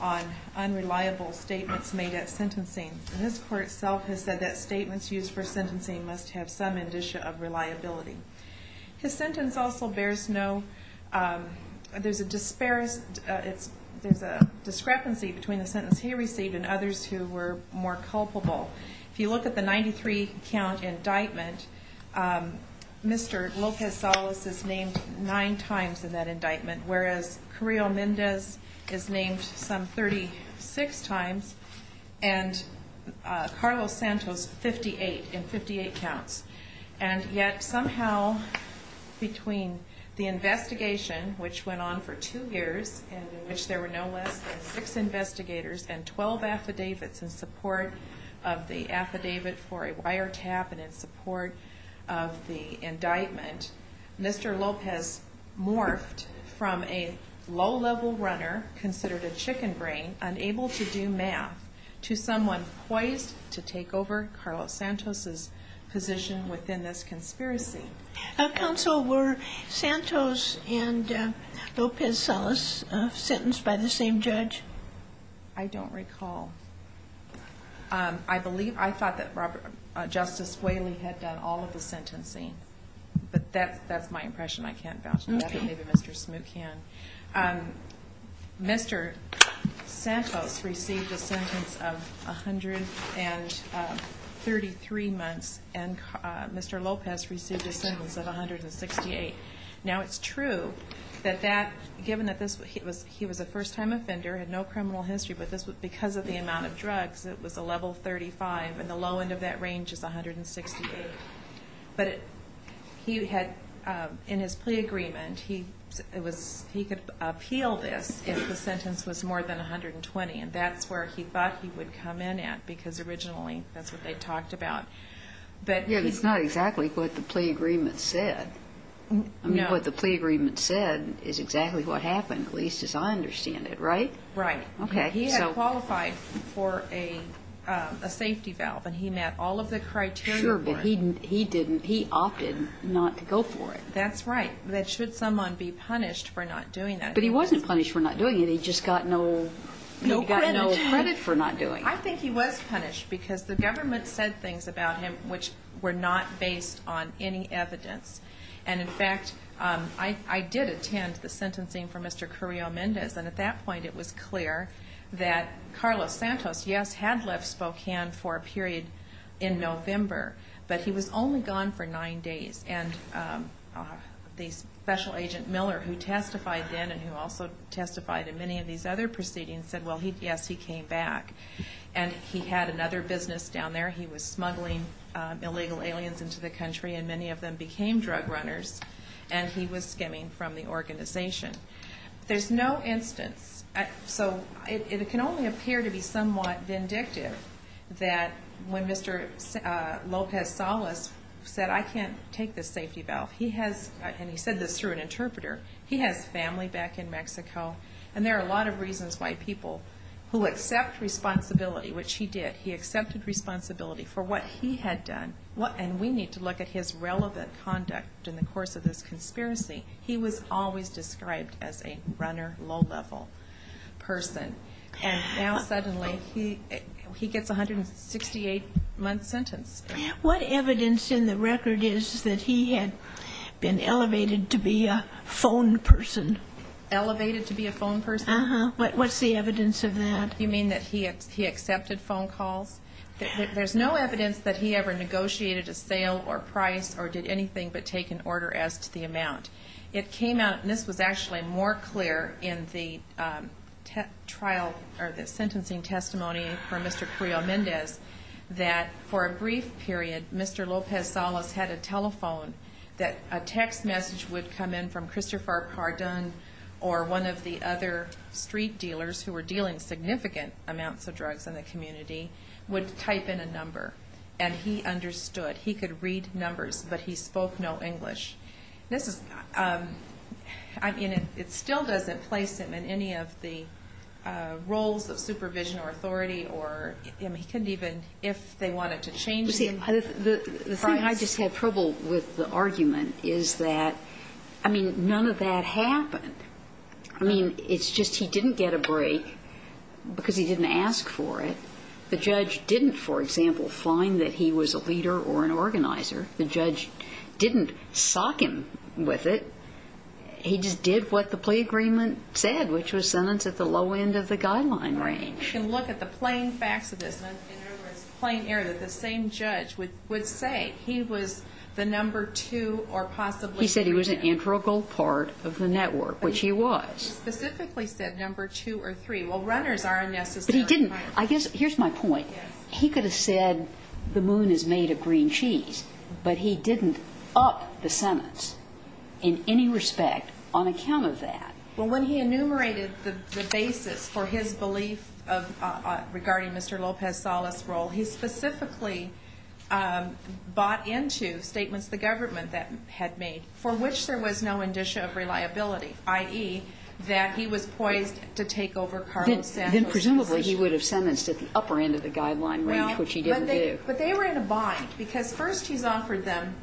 on unreliable statements made at sentencing and this court itself has said that statements used for sentencing must have some indicia of reliability. His sentence also bears no, there's a disparities, there's a discrepancy between the sentence he received and others who were more culpable. If you look at the 93 count indictment, Mr. Lopez-Salas is named nine times in that indictment whereas Carrillo-Mendez is named some 36 times and Carlos Santos 58 in 58 counts and yet somehow between the investigation which went on for two years in which there were no less than six investigators and 12 affidavits in support of the affidavit for a wiretap and in support of the from a low-level runner considered a chicken brain unable to do math to someone poised to take over Carlos Santos's position within this conspiracy. Counsel, were Santos and Lopez-Salas sentenced by the same judge? I don't recall. I believe, I thought that Justice Whaley had done all of the sentencing but that's my impression. I can't vouch for that but maybe Mr. Smoot can. Mr. Santos received a sentence of a hundred and thirty three months and Mr. Lopez received a sentence of 168. Now it's true that that given that this was he was he was a first-time offender had no criminal history but this was because of the amount of drugs it was a level 35 and the low end of that range is 168 but he had in his plea agreement he it was he could appeal this if the sentence was more than 120 and that's where he thought he would come in at because originally that's what they talked about. But it's not exactly what the plea agreement said. I mean what the plea agreement said is exactly what happened at least as I understand it, right? Right. Okay. He had qualified for a safety valve and he met all of the criteria. Sure but he didn't he opted not to go for it. That's right. That should someone be punished for not doing that. But he wasn't punished for not doing it he just got no credit for not doing it. I think he was punished because the government said things about him which were not based on any evidence and in fact I did attend the sentencing for Mr. Carrillo-Mendez and at that point it was clear that Carlos Santos yes had left Spokane for a period in November but he was only gone for nine days and the special agent Miller who testified then and who also testified in many of these other proceedings said well he yes he came back and he had another business down there he was smuggling illegal aliens into the country and many of them became drug runners and he was skimming from the organization. There's no instance so it can only appear to be somewhat vindictive that when Mr. Lopez-Salas said I can't take this safety valve he has and he said this through an interpreter he has family back in Mexico and there are a lot of reasons why people who accept responsibility which he did he accepted responsibility for what he had done what and we need to look at his relevant conduct in the course of this person and now suddenly he he gets 168 month sentence. What evidence in the record is that he had been elevated to be a phone person? Elevated to be a phone person? Uh-huh. What's the evidence of that? You mean that he had he accepted phone calls? There's no evidence that he ever negotiated a sale or price or did anything but take an order as to the amount. It came out and this was actually more clear in the trial or the sentencing testimony for Mr. Carrillo-Mendez that for a brief period Mr. Lopez-Salas had a telephone that a text message would come in from Christopher Cardon or one of the other street dealers who were dealing significant amounts of drugs in the community would type in a number and he understood. He could read numbers but he spoke no English. This I mean it still doesn't place him in any of the roles of supervision or authority or he couldn't even if they wanted to change him. The thing I just had trouble with the argument is that I mean none of that happened. I mean it's just he didn't get a break because he didn't ask for it. The judge didn't for example find that he was a leader or an organizer. The judge didn't sock him with it. He just did what the plea agreement said which was sentenced at the low end of the guideline range. You can look at the plain facts of this in plain air that the same judge would would say he was the number two or possibly. He said he was an integral part of the network which he was. He specifically said number two or three. Well runners are unnecessary. But he didn't I guess here's my point he could have said the moon is made of green cheese but he didn't up the sentence in any respect on account of that. Well when he enumerated the basis for his belief of regarding Mr. Lopez-Salas role he specifically bought into statements the government that had made for which there was no indicia of reliability i.e. that he was poised to take over Carlos Santos. Then presumably he would have sentenced at the upper end of the guideline range which he didn't do. But they were in a bind because first he's offered them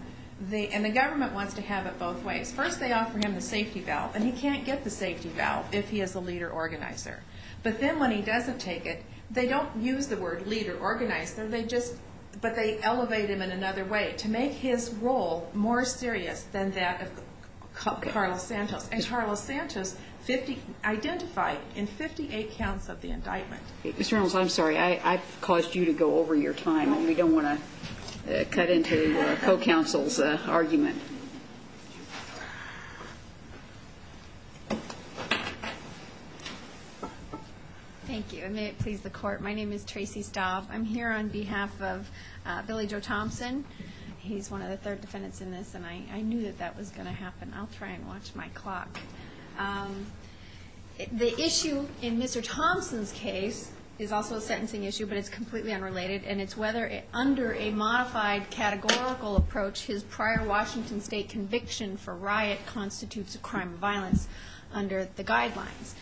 the and the government wants to have it both ways. First they offer him the safety valve and he can't get the safety valve if he is a leader organizer. But then when he doesn't take it they don't use the word leader organized there they just but they elevate him in another way to make his role more serious than that of Carlos Santos. And Carlos Santos identified in 58 counts of the General's I'm sorry I caused you to go over your time and we don't want to cut into co-counsel's argument. Thank you and may it please the court my name is Tracy Stauff I'm here on behalf of Billy Joe Thompson he's one of the third defendants in this and I knew that that was going to happen I'll try and watch my clock. The issue in Mr. Thompson's case is also a sentencing issue but it's completely unrelated and it's whether under a modified categorical approach his prior Washington state conviction for riot constitutes a crime of violence under the guidelines.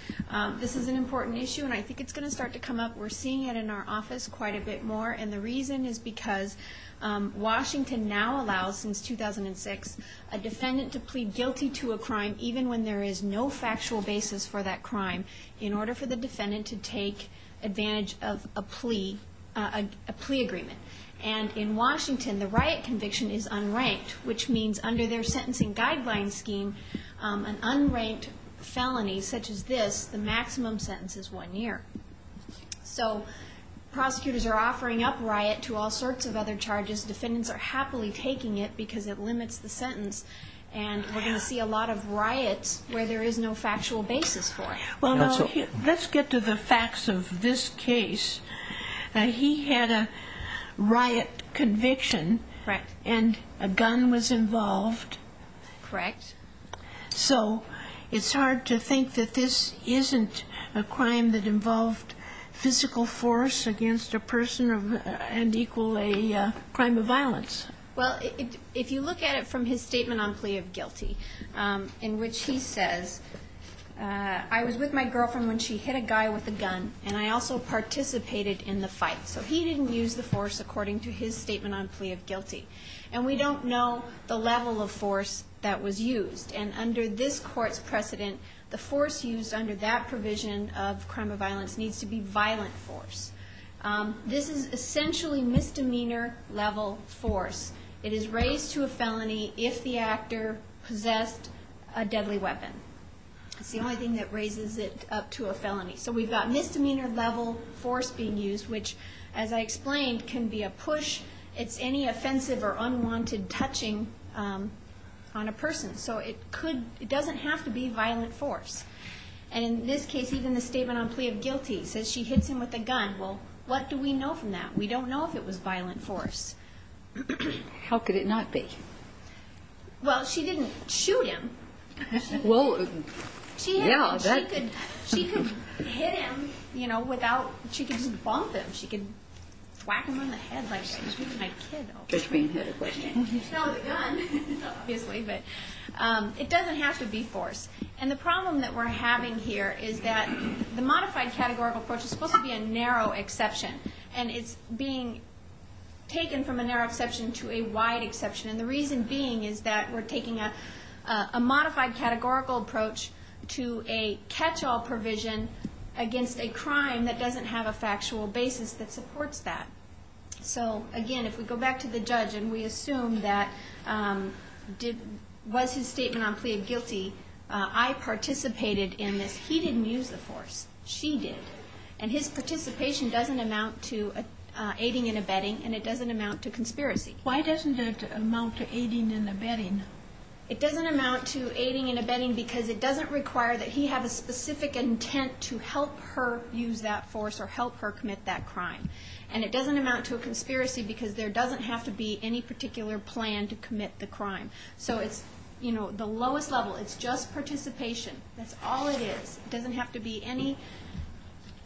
This is an important issue and I think it's going to start to come up we're seeing it in our office quite a bit more and the reason is because Washington now allows since 2006 a defendant to plead guilty to a crime even when there is no factual basis for that crime in order for the defendant to take advantage of a plea agreement and in Washington the riot conviction is unranked which means under their sentencing guidelines scheme an unranked felony such as this the maximum sentence is one year. So prosecutors are offering up riot to all sorts of other charges defendants are happily taking it because it limits the sentence and we're going to see a lot of riots where there is no factual basis for it. Well let's get to the facts of this case he had a riot conviction and a gun was involved. Correct. So it's hard to think that this isn't a crime that involved physical force against a person of and a crime of violence. Well if you look at it from his statement on plea of guilty in which he says I was with my girlfriend when she hit a guy with a gun and I also participated in the fight so he didn't use the force according to his statement on plea of guilty and we don't know the level of force that was used and under this court's precedent the force used under that provision of crime of violence needs to be violent force. This is essentially misdemeanor level force it is raised to a felony if the actor possessed a deadly weapon. It's the only thing that raises it up to a felony so we've got misdemeanor level force being used which as I explained can be a push it's any offensive or unwanted touching on a person so it could it doesn't have to be violent force and in this case even the statement on plea of guilty says she hits him with a gun well what do we know from that we don't know if it was violent force. How could it not be? Well she didn't shoot him. Well yeah. She could hit him you know without she could just bump him. She could whack him on the head like she was beating my kid over. That's being hit a question. No the gun obviously but it doesn't have to be force and the problem that we're having here is that the modified categorical approach is supposed to be a narrow exception and it's being taken from a narrow exception to a wide exception and the reason being is that we're taking a modified categorical approach to a catch-all provision against a crime that doesn't have a factual basis that supports that. So again if we go back to the judge and we assume that was his he didn't use the force. She did and his participation doesn't amount to aiding and abetting and it doesn't amount to conspiracy. Why doesn't it amount to aiding and abetting? It doesn't amount to aiding and abetting because it doesn't require that he have a specific intent to help her use that force or help her commit that crime and it doesn't amount to a conspiracy because there doesn't have to be any particular plan to commit the crime so it's you know the lowest level it's just participation. That's all it is. It doesn't have to be any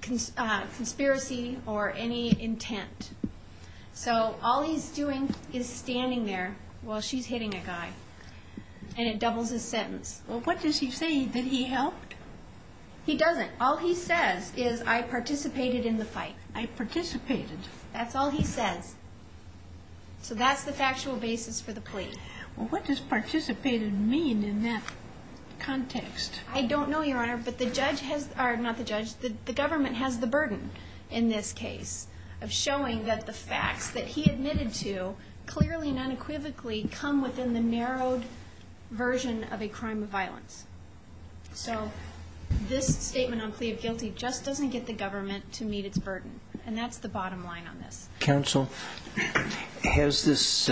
conspiracy or any intent. So all he's doing is standing there while she's hitting a guy and it doubles his sentence. Well what does he say? Did he help? He doesn't. All he says is I participated in the fight. I participated. That's all he says. So that's the factual basis for the plea. Well what does participated mean in that context? I don't know your honor but the government has the burden in this case of showing that the facts that he admitted to clearly and unequivocally come within the narrowed version of a crime of violence. So this statement on plea of guilty just doesn't get the government to meet its burden and that's the bottom line on this. Counsel, has this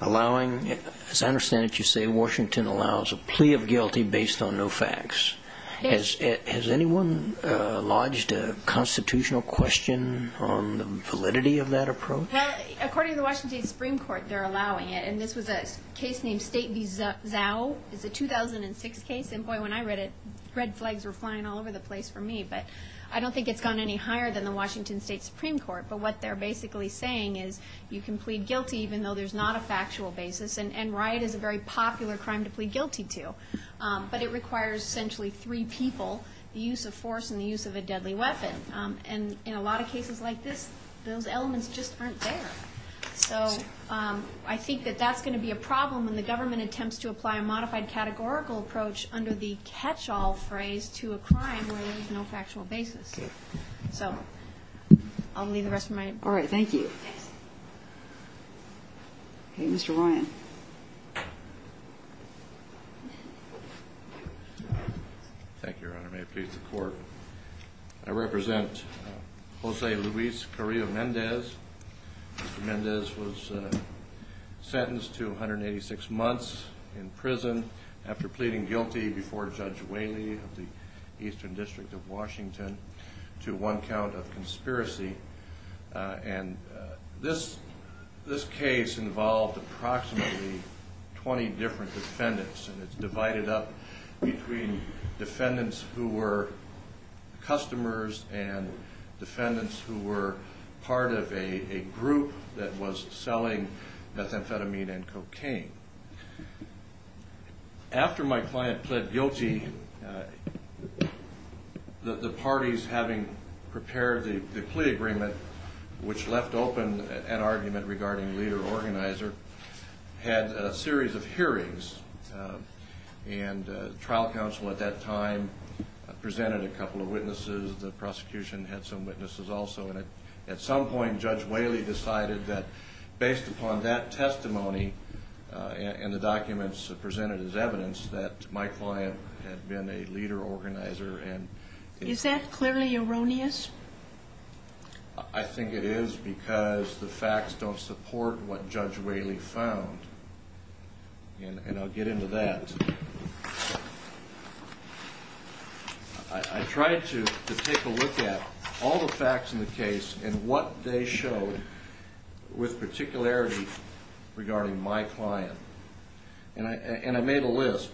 allowing, as I understand it you say, Washington allows a plea of guilty based on no facts. Has anyone lodged a constitutional question on the validity of that approach? According to the Washington Supreme Court they're allowing it and this was a case named State v. Zao. It's a 2006 case and boy when I read it red flags were not any higher than the Washington State Supreme Court. But what they're basically saying is you can plead guilty even though there's not a factual basis and riot is a very popular crime to plead guilty to. But it requires essentially three people, the use of force and the use of a deadly weapon. And in a lot of cases like this those elements just aren't there. So I think that that's going to be a problem when the government attempts to apply a modified categorical approach under the catch-all phrase to a crime where there's no evidence. So I'll leave the rest of my... All right, thank you. Okay, Mr. Ryan. Thank you, Your Honor. May it please the court. I represent Jose Luis Carrillo Mendez. Mr. Mendez was sentenced to 186 months in prison after pleading guilty before Judge Whaley of the Eastern District of Washington to one count of conspiracy. And this case involved approximately 20 different defendants and it's divided up between defendants who were customers and defendants who were part of a group that was selling methamphetamine and cocaine. After my client pled guilty, the parties having prepared the plea agreement, which left open an argument regarding leader-organizer, had a series of hearings. And trial counsel at that time presented a couple of witnesses. The prosecution had some witnesses also. And at some point Judge Whaley decided that my client had been a leader-organizer and... Is that clearly erroneous? I think it is because the facts don't support what Judge Whaley found. And I'll get into that. I tried to take a look at all the facts in the case and what they showed with particularity regarding my client. And I made a list.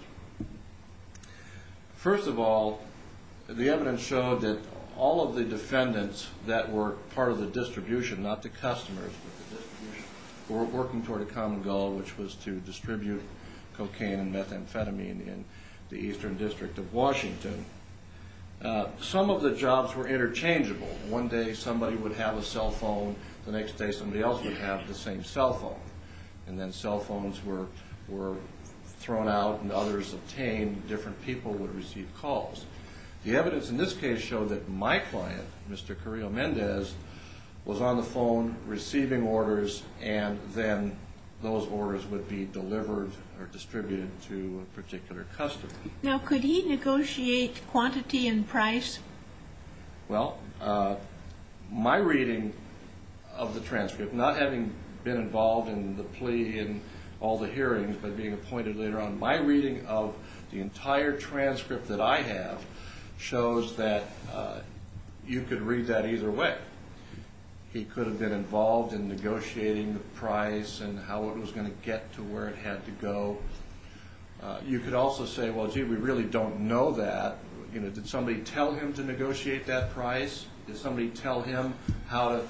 First of all, the evidence showed that all of the defendants that were part of the distribution, not the customers, were working toward a common goal, which was to distribute cocaine and methamphetamine in the Eastern District of Washington. Some of the jobs were interchangeable. One day somebody would have a cell phone. The next day somebody else would have the same cell phone. And then cell phones were thrown out and others obtained. Different people would receive calls. The evidence in this case showed that my client, Mr. Carrillo Mendez, was on the phone receiving orders and then those orders would be delivered or distributed to a particular customer. Now could he negotiate quantity and price? Well, my reading of the transcript, not having been involved in the plea in all the hearings but being appointed later on, my reading of the entire transcript that I have shows that you could read that either way. He could have been involved in negotiating the price and how it was going to get to where it had to go. You could also say, well gee, we really don't know that. You know, did somebody tell him to negotiate that price? Did somebody tell him how to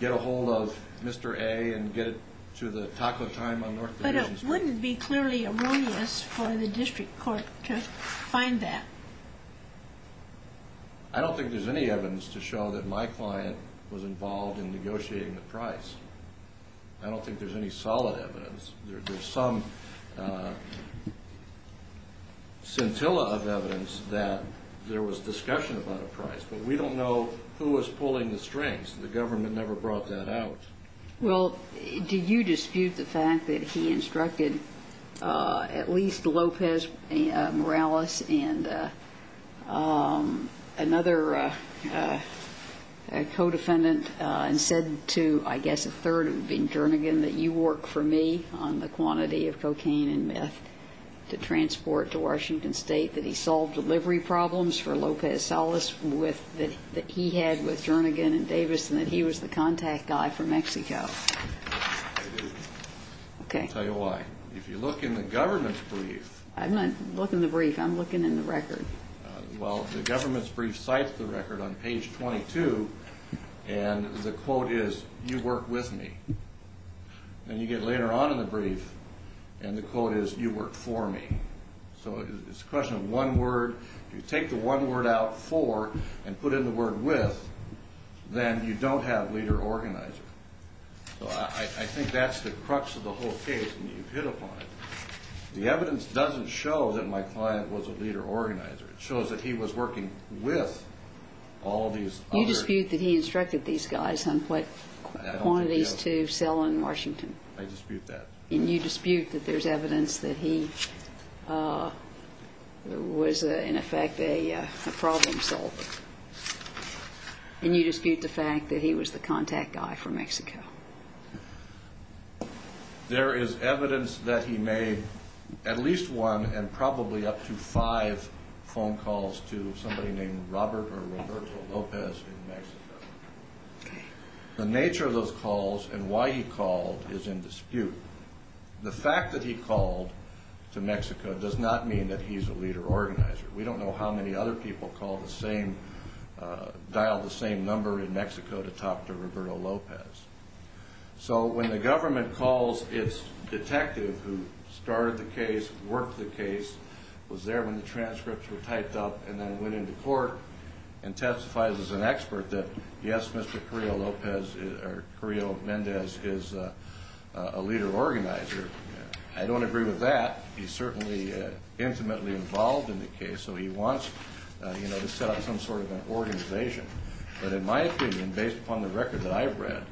get a hold of Mr. A. and get it to the taco time on North 30th Street? But it wouldn't be clearly erroneous for the district court to find that. I don't think there's any evidence to show that my client was involved in negotiating the price. I don't think there's any solid evidence. There's some scintilla of evidence that there was discussion about a price. But we don't know who was pulling the strings. The government never brought that out. Well, do you dispute the fact that he instructed at least Lopez Morales and another co-defendant and said to, I guess a third, it would have been Jernigan, that you work for me on the quantity of cocaine and meth to transport to Washington State, that he solved delivery problems for Lopez Salas with, that he had with Jernigan and Davis, and that he was the contact guy for Mexico? I do. I'll tell you why. If you look in the government's brief. I'm not looking in the brief. I'm looking in the record. Well, the government's brief cites the record on and you get later on in the brief and the quote is, you work for me. So it's a question of one word. You take the one word out for and put in the word with, then you don't have leader-organizer. So I think that's the crux of the whole case and you've hit upon it. The evidence doesn't show that my client was a leader-organizer. It shows that he was working with all these other... You dispute that he was selling in Washington. I dispute that. And you dispute that there's evidence that he was, in effect, a problem solver. And you dispute the fact that he was the contact guy for Mexico. There is evidence that he made at least one and probably up to five phone calls to somebody named Robert or Roberto Lopez in Mexico. The nature of those calls and why he called is in dispute. The fact that he called to Mexico does not mean that he's a leader-organizer. We don't know how many other people dialed the same number in Mexico to talk to Roberto Lopez. So when the government calls its detective who started the case, worked the case, was there when the transcripts were typed up and then went into court and testifies as an expert that, yes, Mr. Carrillo Lopez or Carrillo Mendez is a leader-organizer, I don't agree with that. He's certainly intimately involved in the case, so he wants to set up some sort of an organization. But in my opinion, based upon the record that I've read,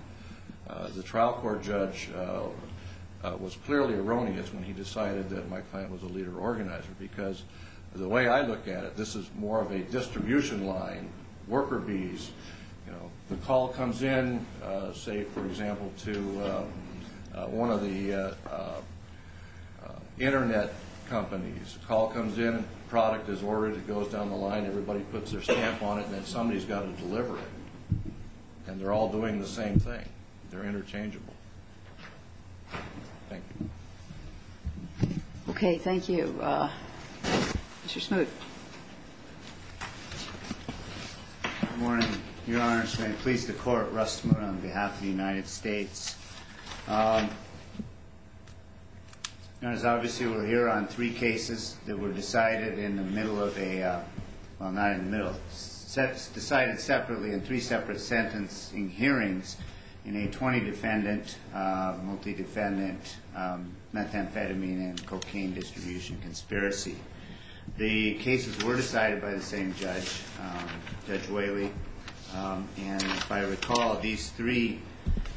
the trial court judge was clearly erroneous when he decided that my client was a leader-organizer because the way I look at it, this is more of a distribution line, worker bees. The call comes in, say, for example, to one of the Internet companies. The call comes in, the product is ordered, it goes down the line, everybody puts their stamp on it, and then somebody's got to deliver it. And they're all doing the same thing. They're interchangeable. Thank you. Okay. Thank you. Mr. Smoot. Good morning, Your Honor. May it please the Court, Russ Smoot on behalf of the United States. Your Honor, as obviously we're here on three cases that were decided in the middle of a, well, not in the middle, decided separately in three cases. The first one was a case of methamphetamine and cocaine distribution conspiracy. The cases were decided by the same judge, Judge Whaley. And if I recall, these three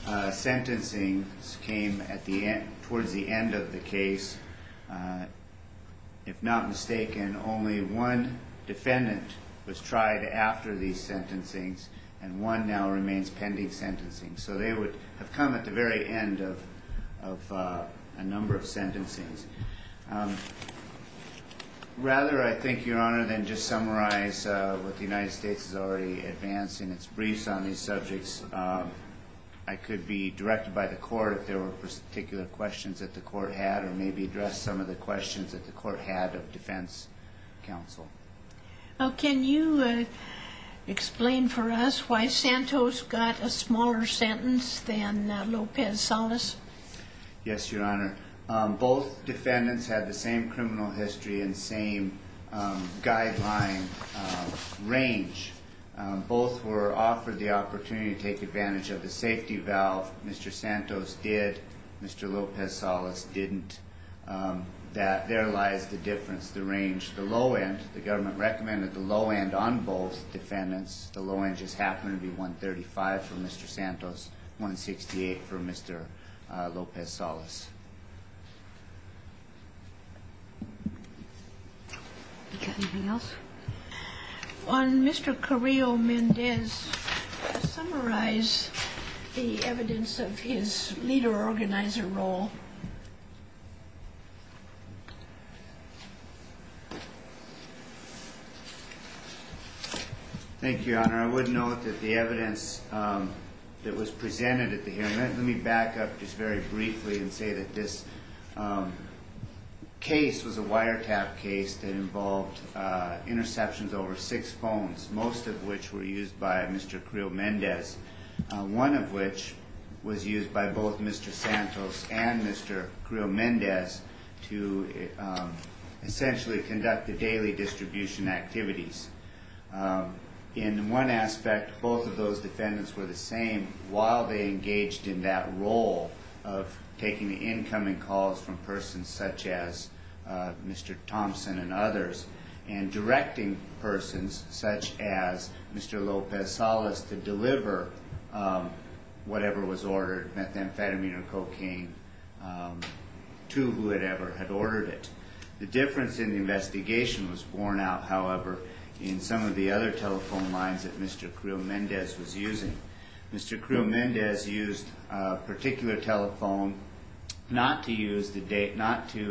sentencings came towards the end of the case. If not mistaken, only one defendant was tried after these sentencings, and one now and a number of sentencings. Rather, I think, Your Honor, than just summarize what the United States has already advanced in its briefs on these subjects, I could be directed by the Court if there were particular questions that the Court had, or maybe address some of the questions that the Court had of defense counsel. Well, can you explain for us why Santos got a smaller sentence than Lopez Salas? Yes, Your Honor. Both defendants had the same criminal history and same guideline range. Both were offered the opportunity to take advantage of the safety valve. Mr. Santos did. Mr. Lopez Salas didn't. There lies the difference, the range. The low end, the government recommended the low end on both defendants. The low end just happened to be 135 for Mr. Santos, 168 for Mr. Lopez Salas. Anything else? On Mr. Carrillo-Mendez, summarize the evidence of his leader organizer role. Thank you, Your Honor. I would note that the evidence that was presented at the hearing, let me back up just very briefly and say that this case was a wiretap case that involved interceptions over six phones, most of which were used by Mr. Carrillo-Mendez, one of which was used by both Mr. Santos and Mr. Carrillo-Mendez to essentially conduct the daily distribution activities. In one aspect, both of those defendants were the same while they engaged in that role of taking the incoming calls from persons such as Mr. Thompson and others and directing persons such as Mr. Lopez Salas to deliver whatever was ordered, methamphetamine or cocaine, to whoever had ordered it. The difference in the investigation was borne out, however, in some of the other telephone lines that Mr. Carrillo-Mendez was using. Mr. Carrillo-Mendez used a particular telephone not to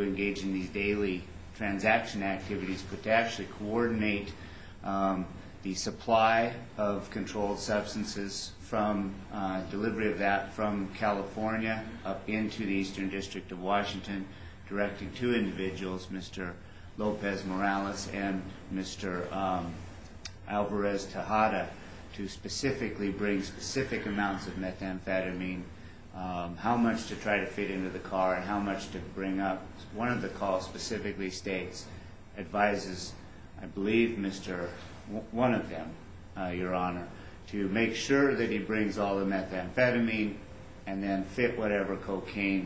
engage in these daily transaction activities but to actually coordinate the supply of controlled substances from delivery of that from California up into the Eastern District of California. Mr. Lopez and Mr. Alvarez Tejada to specifically bring specific amounts of methamphetamine, how much to try to fit into the car and how much to bring up. One of the calls specifically states, advises, I believe, one of them, Your Honor, to make sure that he brings all the methamphetamine and then fit whatever Mr.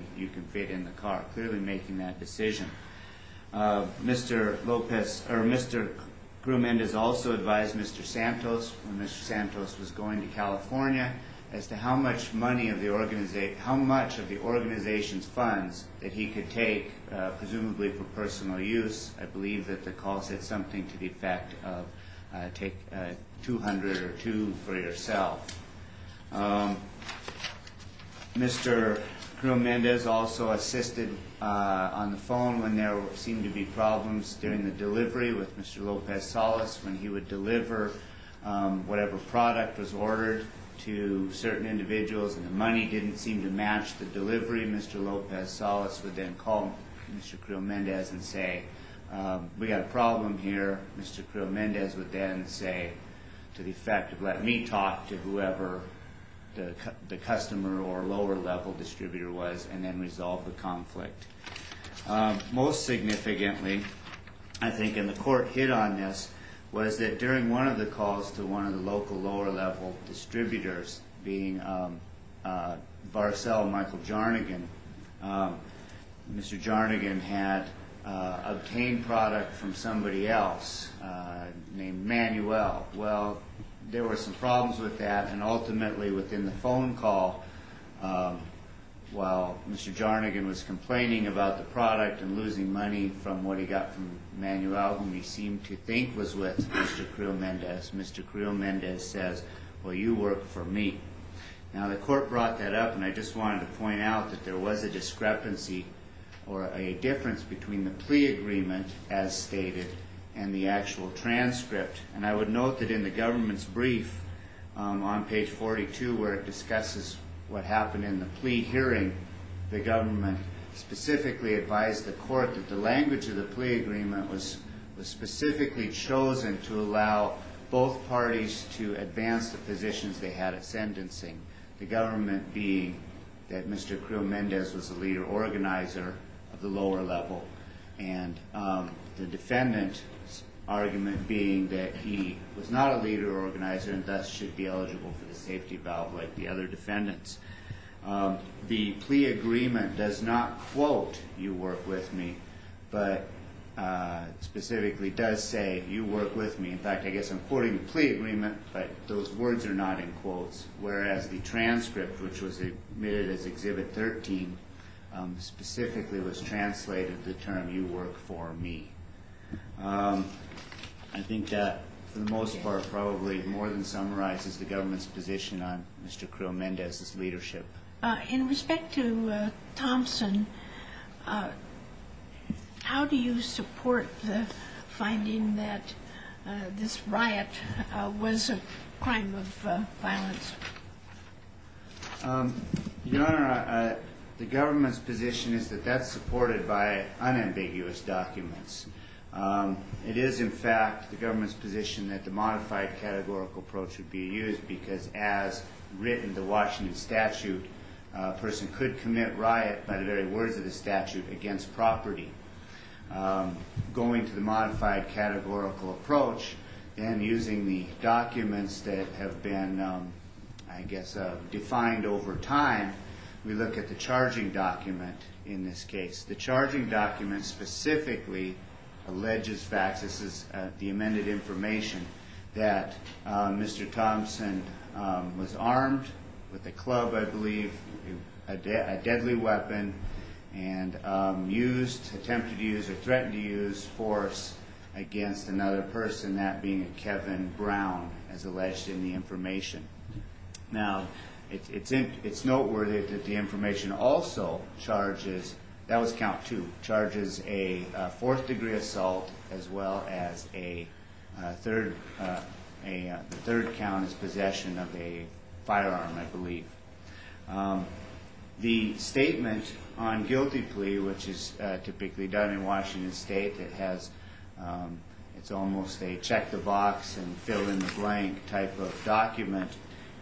Carrillo-Mendez also advised Mr. Santos when Mr. Santos was going to California as to how much money of the organization's funds that he could take, presumably for personal use. I believe that the call said something to the effect of take 200 or two for yourself. Mr. Carrillo-Mendez also assisted on the phone when there seemed to be problems during the delivery with Mr. Lopez-Salas when he would deliver whatever product was ordered to certain individuals and the money didn't seem to match the delivery. Mr. Lopez-Salas would then call Mr. Carrillo-Mendez and say, we have a problem here. Mr. Carrillo-Mendez would then say to the effect of let me talk to whoever the customer or lower level distributor was and then resolve the conflict. Most significantly, I think, and the court hit on this, was that during one of the calls to one of the local lower level distributors, being Varcel and Michael Jarnaghan, Mr. Jarnaghan had obtained product from somebody else named Manuel. Well, there were some problems with that and ultimately within the phone call, while Mr. Jarnaghan was complaining about the product and losing money from what he got from Manuel, whom he seemed to think was with Mr. Carrillo-Mendez, Mr. Carrillo-Mendez says, well, you work for me. Now, the court brought that up and I just wanted to point out that there was a discrepancy or a difference between the plea agreement as stated and the actual transcript. And I would note that in the government's brief on page 42 where it discusses what happened in the plea hearing, the government specifically advised the court that the language of the plea agreement was specifically chosen to allow both parties to advance the positions they had at sentencing. The government being that Mr. Carrillo-Mendez was the leader organizer of the lower level and the plea was not a leader organizer and thus should be eligible for the safety valve like the other defendants. The plea agreement does not quote, you work with me, but specifically does say, you work with me. In fact, I guess I'm quoting the plea agreement, but those words are not in quotes, whereas the transcript, which was admitted as Exhibit 13, specifically was translated the term, you work for me. I think that for the most part, probably more than summarizes the government's position on Mr. Carrillo-Mendez's leadership. In respect to Thompson, how do you support the finding that this riot was a crime of violence? Your Honor, the government's position is that that's supported by unambiguous documents. It is, in fact, the government's position that the modified categorical approach would be used because as written in the Washington statute, a person could commit riot by the very words of the statute against property. Going to the modified categorical approach and using the documents that have been, I guess, defined over time, we look at the charging document in this case. The charging document specifically alleges facts. This is the amended information that Mr. Thompson was armed with a club, I believe, a deadly weapon, and attempted to use or threatened to use force against another person, that being a Kevin Brown, as alleged in the information. Now, it's noteworthy that the information also charges, that was count two, charges a fourth degree assault as well as a third, the third count is possession of a firearm, I believe. The statement on guilty plea, which is typically done in a closed state, check the box and fill in the blank type of document,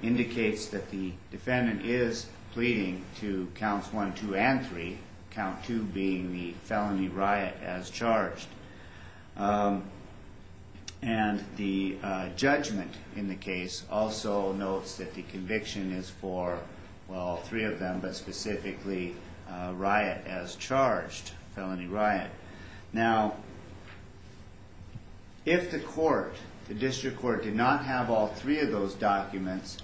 indicates that the defendant is pleading to counts one, two, and three, count two being the felony riot as charged. And the judgment in the case also notes that the conviction is for, well, three of them, but specifically riot as charged, felony riot. If the court, the district court, did not have all three of those documents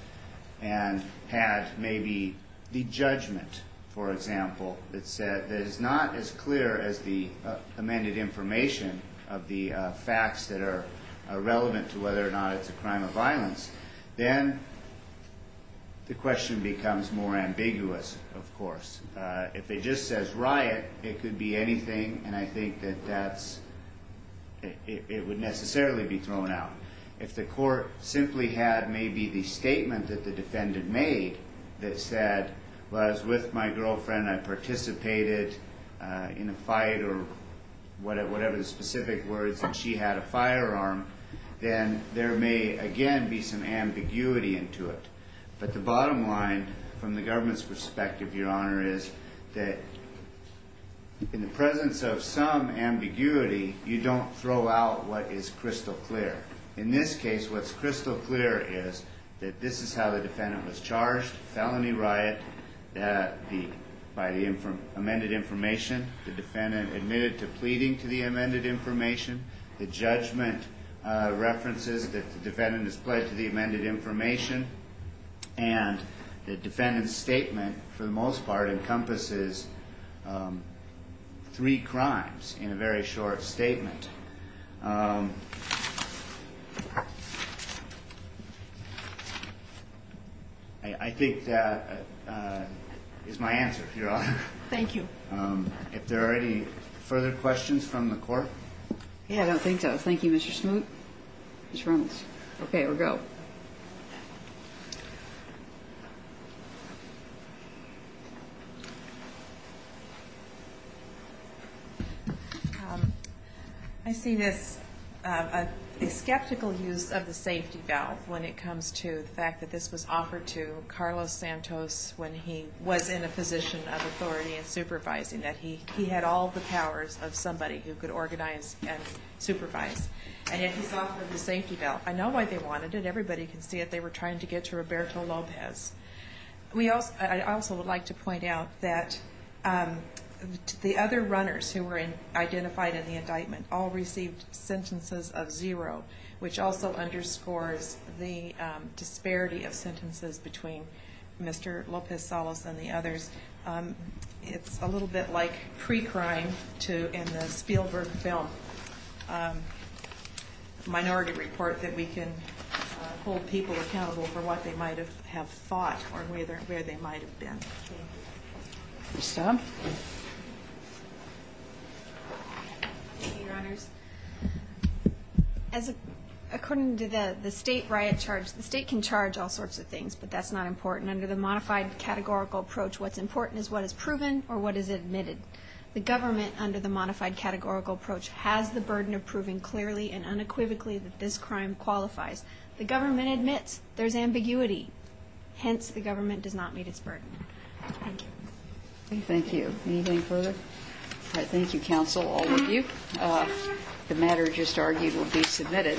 and had maybe the judgment, for example, that is not as clear as the amended information of the facts that are relevant to whether or not it's a crime of violence, then the question becomes more ambiguous, of course. If it just says it would necessarily be thrown out. If the court simply had maybe the statement that the defendant made that said, well, I was with my girlfriend, I participated in a fight, or whatever the specific words, and she had a firearm, then there may again be some ambiguity into it. But the bottom line, from the government's perspective, Your Honor, is that in the presence of some ambiguity, you don't throw out what is crystal clear. In this case, what's crystal clear is that this is how the defendant was charged, felony riot by the amended information, the defendant admitted to pleading to the amended information, the judgment references that the defendant has pledged to the amended information, and the defendant's statement, for the most part, encompasses three crimes in a very short statement. I think that is my answer, Your Honor. Thank you. If there are any further questions from the court? I don't think so. Thank you, Mr. Smoot. Ms. Reynolds. Okay, we'll go. I see this skeptical use of the safety valve when it comes to the fact that this was offered to Carlos Santos when he was in a position of authority and supervising, that he had all the powers of somebody who could organize and supervise, and yet he's offered the safety valve. I know why they wanted it, everybody can see it, they were trying to get to Roberto Lopez. I also would like to point out that the other runners who were identified in the indictment all received sentences of zero, which also underscores the disparity of sentences between Mr. Lopez-Salas and the others. It's a little bit like pre-crime in the Spielberg film minority report that we can hold people accountable for the crimes that they committed, and I think that's a little bit of an understatement, but it's a little bit of an understatement. Thank you. Ms. Stump. Thank you, Your Honors. According to the state riot charge, the state can charge all sorts of things, but that's not important. Under the modified categorical approach, what's important is what is proven or what is admitted. The government, under the modified categorical approach, has the burden of proving clearly and unequivocally that this crime qualifies. The government admits there's ambiguity, hence the government does not meet its burden. Thank you. Anything further? All right. Thank you, counsel, all of you. The matter just argued will be submitted.